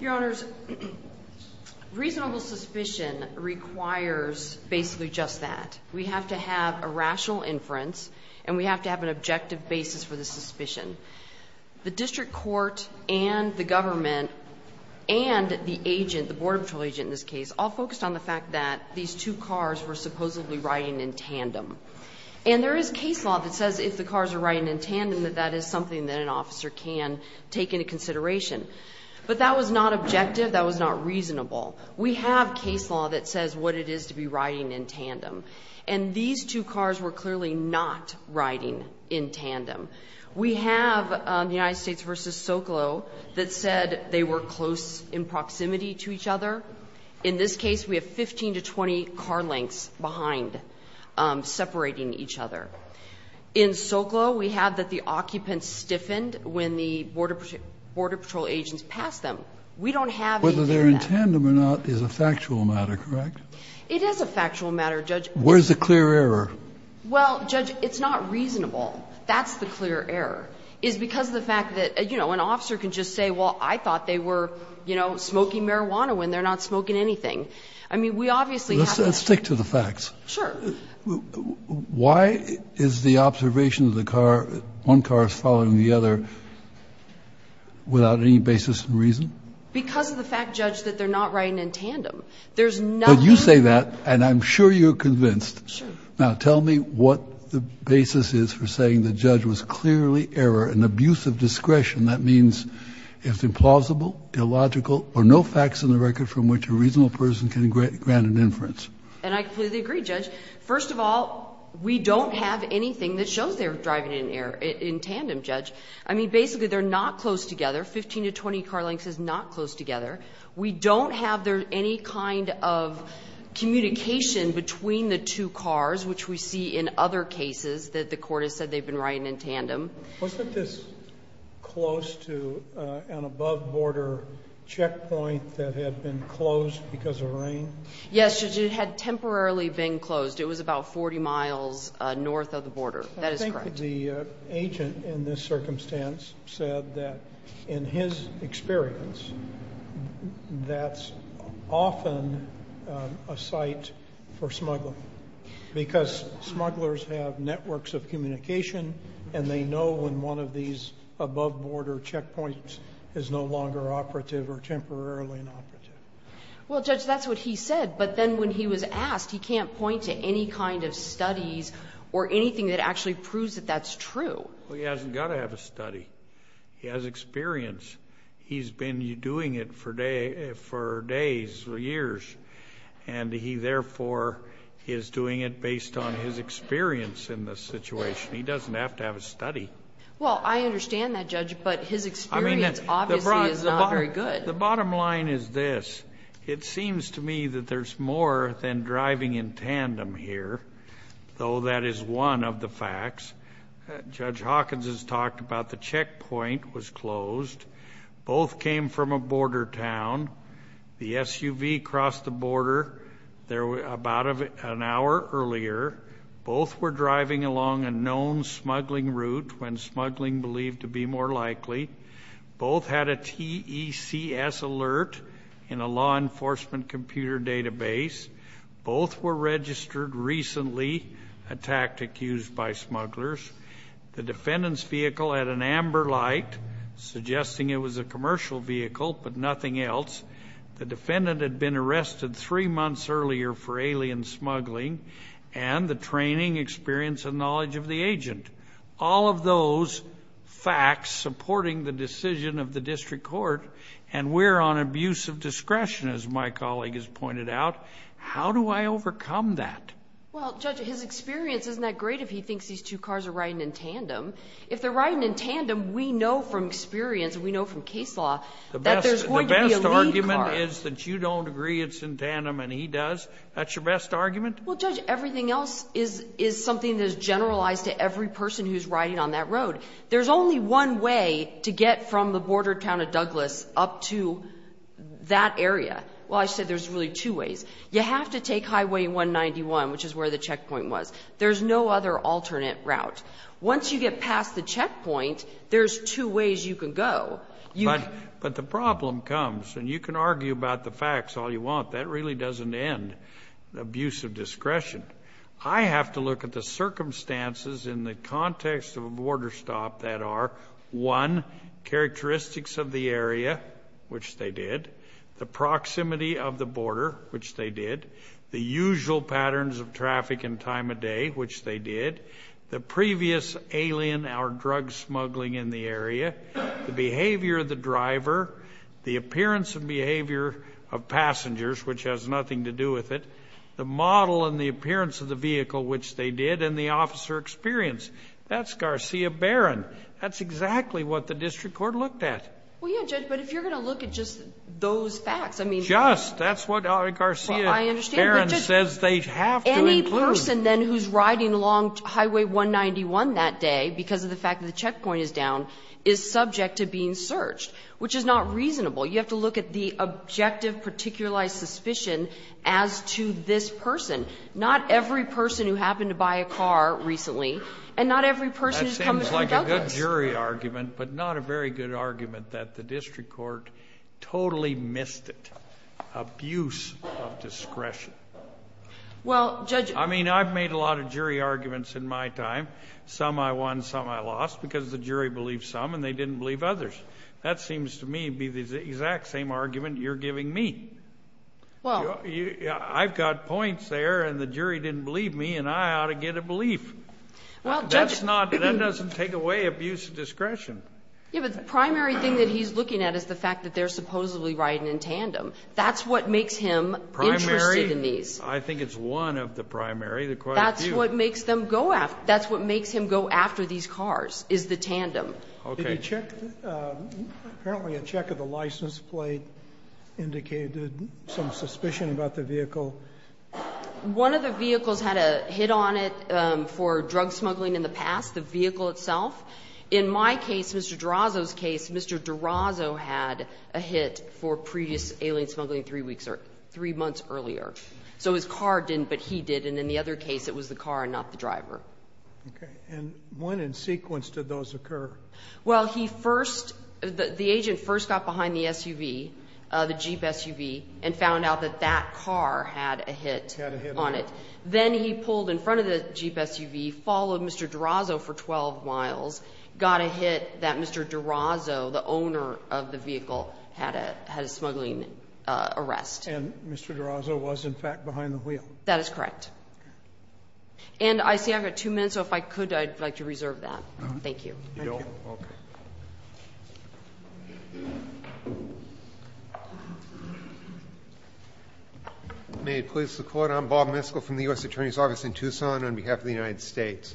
Your Honors, reasonable suspicion requires basically just that. We have to have a rational inference and we have to have an objective basis for the suspicion. The district court and the government and the agent, the border patrol agent in this case, all focused on the fact that these two cars were supposedly riding in tandem. And there is case law that says if the cars are riding in tandem that that is something that an officer can take into consideration. But that was not objective, that was not reasonable. We have case law that says what it is to be riding in tandem. And these two cars were clearly not riding in tandem. We have the United States v. Socolow that said they were close in proximity to each other. In this case we have 15 to 20 car lengths behind separating each other. In Socolow we have that the occupants stiffened when the border patrol agents passed them. We don't have anything like that. Kennedy, whether they're in tandem or not is a factual matter, correct? It is a factual matter, Judge. Where's the clear error? Well, Judge, it's not reasonable. That's the clear error, is because of the fact that, you know, an officer can just say, well, I thought they were, you know, smoking marijuana when they're not smoking anything. I mean, we obviously have that. Let's stick to the facts. Sure. Why is the observation of the car, one car is following the other, without any basis in reason? Because of the fact, Judge, that they're not riding in tandem. But you say that, and I'm sure you're convinced. Sure. Now tell me what the basis is for saying the judge was clearly error and abuse of discretion. That means it's implausible, illogical, or no facts in the record from which a reasonable person can grant an inference. And I completely agree, Judge. First of all, we don't have anything that shows they're driving in tandem, Judge. I mean, basically they're not close together. 15 to 20 car lengths is not close together. We don't have there any kind of communication between the two cars, which we see in other cases that the Court has said they've been riding in tandem. Wasn't this close to an above-border checkpoint that had been closed because of rain? Yes, Judge. It had temporarily been closed. It was about 40 miles north of the border. That is correct. I think the agent in this circumstance said that, in his experience, that's often a site for smuggling. Because smugglers have networks of communication, and they know when one of these above-border checkpoints is no longer operative or temporarily inoperative. Well, Judge, that's what he said. But then when he was asked, he can't point to any kind of studies or anything that actually proves that that's true. Well, he hasn't got to have a study. He has experience. He's been doing it for days or years. And he, therefore, is doing it based on his experience in this situation. He doesn't have to have a study. Well, I understand that, Judge, but his experience obviously is not very good. The bottom line is this. It seems to me that there's more than driving in tandem here, though that is one of the facts. Judge Hawkins has talked about the checkpoint was closed. Both came from a border town. The SUV crossed the border about an hour earlier. Both were driving along a known smuggling route when smuggling believed to be more likely. Both had a TECS alert in a law enforcement computer database. Both were registered recently, a tactic used by smugglers. The defendant's vehicle had an amber light, suggesting it was a commercial vehicle, but nothing else. The defendant had been arrested three months earlier for alien smuggling and the training, experience, and knowledge of the agent. All of those facts supporting the decision of the district court, and we're on abuse of discretion, as my colleague has pointed out. How do I overcome that? Well, Judge, his experience isn't that great if he thinks these two cars are riding in tandem. If they're riding in tandem, we know from experience and we know from case law that there's going to be a lead car. The best argument is that you don't agree it's in tandem and he does. That's your best argument? Well, Judge, everything else is something that is generalized to every person who's riding on that road. There's only one way to get from the border town of Douglas up to that area. Well, I said there's really two ways. You have to take Highway 191, which is where the checkpoint was. There's no other alternate route. Once you get past the checkpoint, there's two ways you can go. But the problem comes, and you can argue about the facts all you want. That really doesn't end abuse of discretion. I have to look at the circumstances in the context of a border stop that are, one, characteristics of the area, which they did, the proximity of the border, which they did, the usual patterns of traffic and time of day, which they did, the previous alien or drug smuggling in the area, the behavior of the driver, the appearance and behavior of passengers, which has nothing to do with it, the model and the appearance of the vehicle, which they did, and the officer experience. That's Garcia Baron. That's exactly what the district court looked at. Well, yes, Judge. But if you're going to look at just those facts, I mean. Just. That's what Garcia Baron says they have to include. Any person, then, who's riding along Highway 191 that day because of the fact that the checkpoint is down is subject to being searched, which is not reasonable. You have to look at the objective, particularized suspicion as to this person. Not every person who happened to buy a car recently, and not every person who comes from Douglas. That sounds like a good jury argument, but not a very good argument that the district court totally missed it. Abuse of discretion. Well, Judge. I mean, I've made a lot of jury arguments in my time. Some I won, some I lost, because the jury believed some, and they didn't believe others. That seems to me to be the exact same argument you're giving me. I've got points there, and the jury didn't believe me, and I ought to get a belief. Well, Judge. That doesn't take away abuse of discretion. Yes, but the primary thing that he's looking at is the fact that they're supposedly riding in tandem. That's what makes him interested in these. Primary. I think it's one of the primary. There are quite a few. That's what makes him go after these cars, is the tandem. Okay. Did he check? Apparently a check of the license plate indicated some suspicion about the vehicle. One of the vehicles had a hit on it for drug smuggling in the past, the vehicle itself. In my case, Mr. Durazo's case, Mr. Durazo had a hit for previous alien smuggling three weeks or three months earlier. So his car didn't, but he did. And in the other case, it was the car and not the driver. Okay. And when in sequence did those occur? Well, the agent first got behind the SUV, the Jeep SUV, and found out that that car had a hit on it. Then he pulled in front of the Jeep SUV, followed Mr. Durazo for 12 miles, got a hit that Mr. Durazo, the owner of the vehicle, had a smuggling arrest. And Mr. Durazo was, in fact, behind the wheel. That is correct. And I see I've got two minutes, so if I could, I'd like to reserve that. Thank you. You're welcome. May it please the Court. I'm Bob Miskell from the U.S. Attorney's Office in Tucson on behalf of the United States.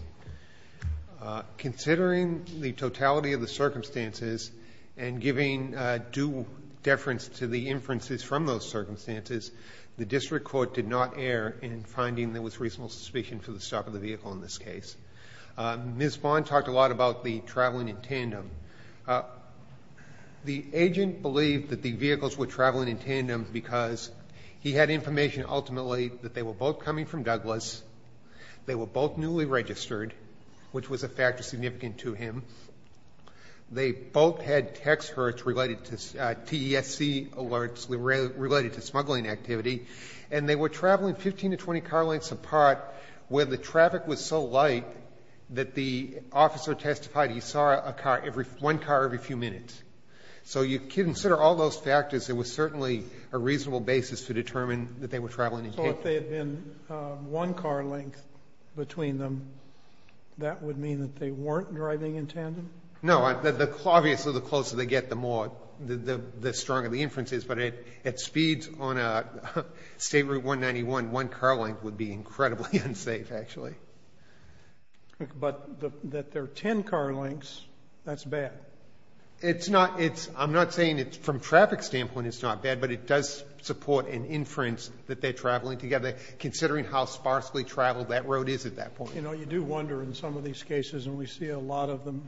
Considering the totality of the circumstances and giving due deference to the inferences from those circumstances, the district court did not err in finding there was reasonable suspicion for the stop of the vehicle in this case. Ms. Vaughn talked a lot about the traveling in tandem. The agent believed that the vehicles were traveling in tandem because he had information, ultimately, that they were both coming from Douglas, they were both newly registered, which was a factor significant to him, they both had text alerts related to TESC alerts related to smuggling activity, and they were traveling 15 to 20 car lengths apart where the traffic was so light that the officer testified he saw one car every few minutes. So you consider all those factors, it was certainly a reasonable basis to determine that they were traveling in tandem. So if they had been one car length between them, that would mean that they weren't driving in tandem? No. Obviously, the closer they get, the more, the stronger the inference is. But at speeds on a State Route 191, one car length would be incredibly unsafe, actually. But that there are ten car lengths, that's bad. It's not. I'm not saying from a traffic standpoint it's not bad, but it does support an inference that they're traveling together, considering how sparsely traveled that road is at that point. You know, you do wonder in some of these cases, and we see a lot of them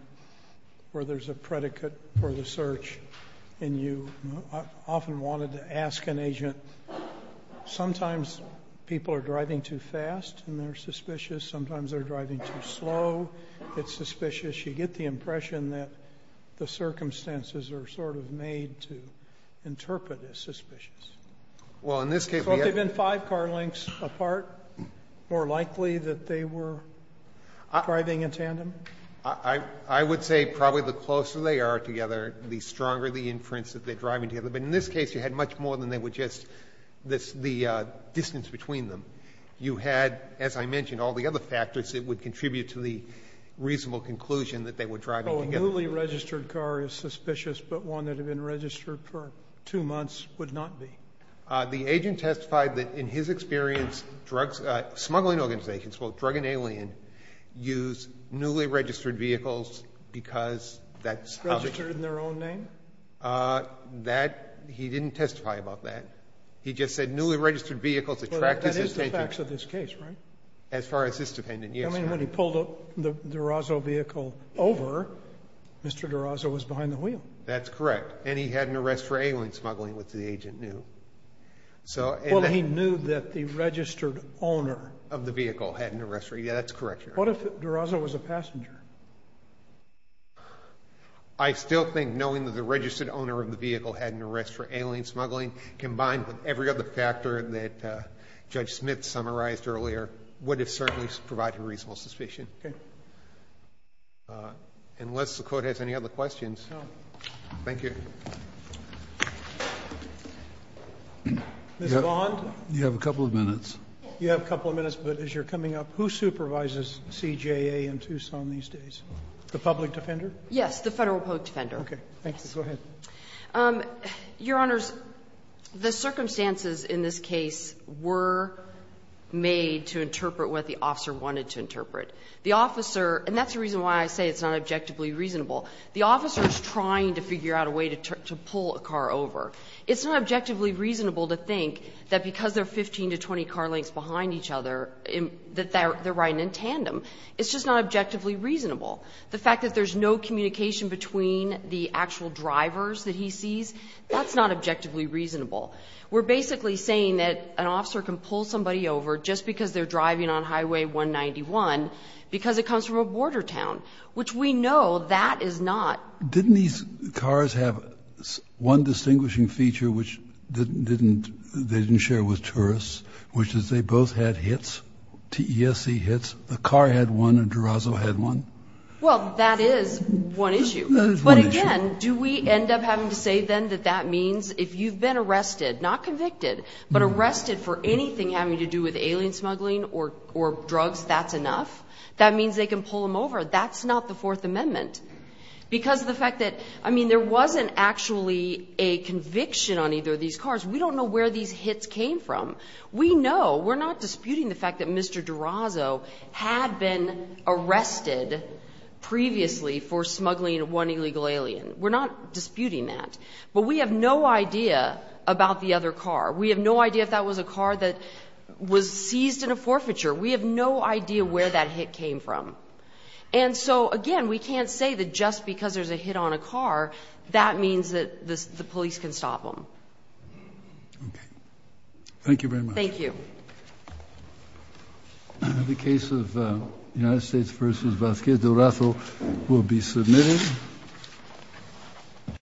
where there's a predicate for the search, and you often wanted to ask an agent, sometimes people are driving too fast and they're suspicious, sometimes they're driving too slow, it's suspicious. You get the impression that the circumstances are sort of made to interpret as suspicious. Well, in this case we have... So if they've been five car lengths apart, more likely that they were driving in tandem? I would say probably the closer they are together, the stronger the inference that they're driving together. But in this case, you had much more than they were just the distance between them. You had, as I mentioned, all the other factors that would contribute to the reasonable conclusion that they were driving together. So a newly registered car is suspicious, but one that had been registered for two months would not be? The agent testified that in his experience, smuggling organizations, both drug and alien, use newly registered vehicles because that's how... Registered in their own name? That, he didn't testify about that. He just said newly registered vehicles attract his attention. That is the facts of this case, right? As far as this defendant, yes. I mean, when he pulled the Durazo vehicle over, Mr. Durazo was behind the wheel. That's correct. And he had an arrest for alien smuggling, which the agent knew. Well, he knew that the registered owner of the vehicle had an arrest. Yeah, that's correct, Your Honor. What if Durazo was a passenger? I still think knowing that the registered owner of the vehicle had an arrest for alien smuggling, combined with every other factor that Judge Smith summarized earlier, would have certainly provided reasonable suspicion. Okay. Unless the Court has any other questions. No. Thank you. Ms. Bond? You have a couple of minutes. You have a couple of minutes, but as you're coming up, who supervises CJA in Tucson these days? The public defender? Yes, the Federal public defender. Okay. Thank you. Go ahead. Your Honors, the circumstances in this case were made to interpret what the officer wanted to interpret. The officer, and that's the reason why I say it's not objectively reasonable. The officer is trying to figure out a way to pull a car over. It's not objectively reasonable to think that because there are 15 to 20 car lengths behind each other that they're riding in tandem. It's just not objectively reasonable. The fact that there's no communication between the actual drivers that he sees, that's not objectively reasonable. We're basically saying that an officer can pull somebody over just because they're driving on Highway 191 because it comes from a border town, which we know that is not. Didn't these cars have one distinguishing feature which they didn't share with tourists, which is they both had hits, TESC hits? The car had one and Durazo had one? Well, that is one issue. That is one issue. But again, do we end up having to say then that that means if you've been arrested, not convicted, but arrested for anything having to do with alien smuggling or drugs, that's enough? That means they can pull him over. That's not the Fourth Amendment because of the fact that, I mean, there wasn't actually a conviction on either of these cars. We don't know where these hits came from. We know, we're not disputing the fact that Mr. Durazo had been arrested previously for smuggling one illegal alien. We're not disputing that. But we have no idea about the other car. We have no idea if that was a car that was seized in a forfeiture. We have no idea where that hit came from. And so, again, we can't say that just because there's a hit on a car, that means that the police can stop him. Okay. Thank you very much. Thank you. The case of United States v. Vasquez Durazo will be submitted.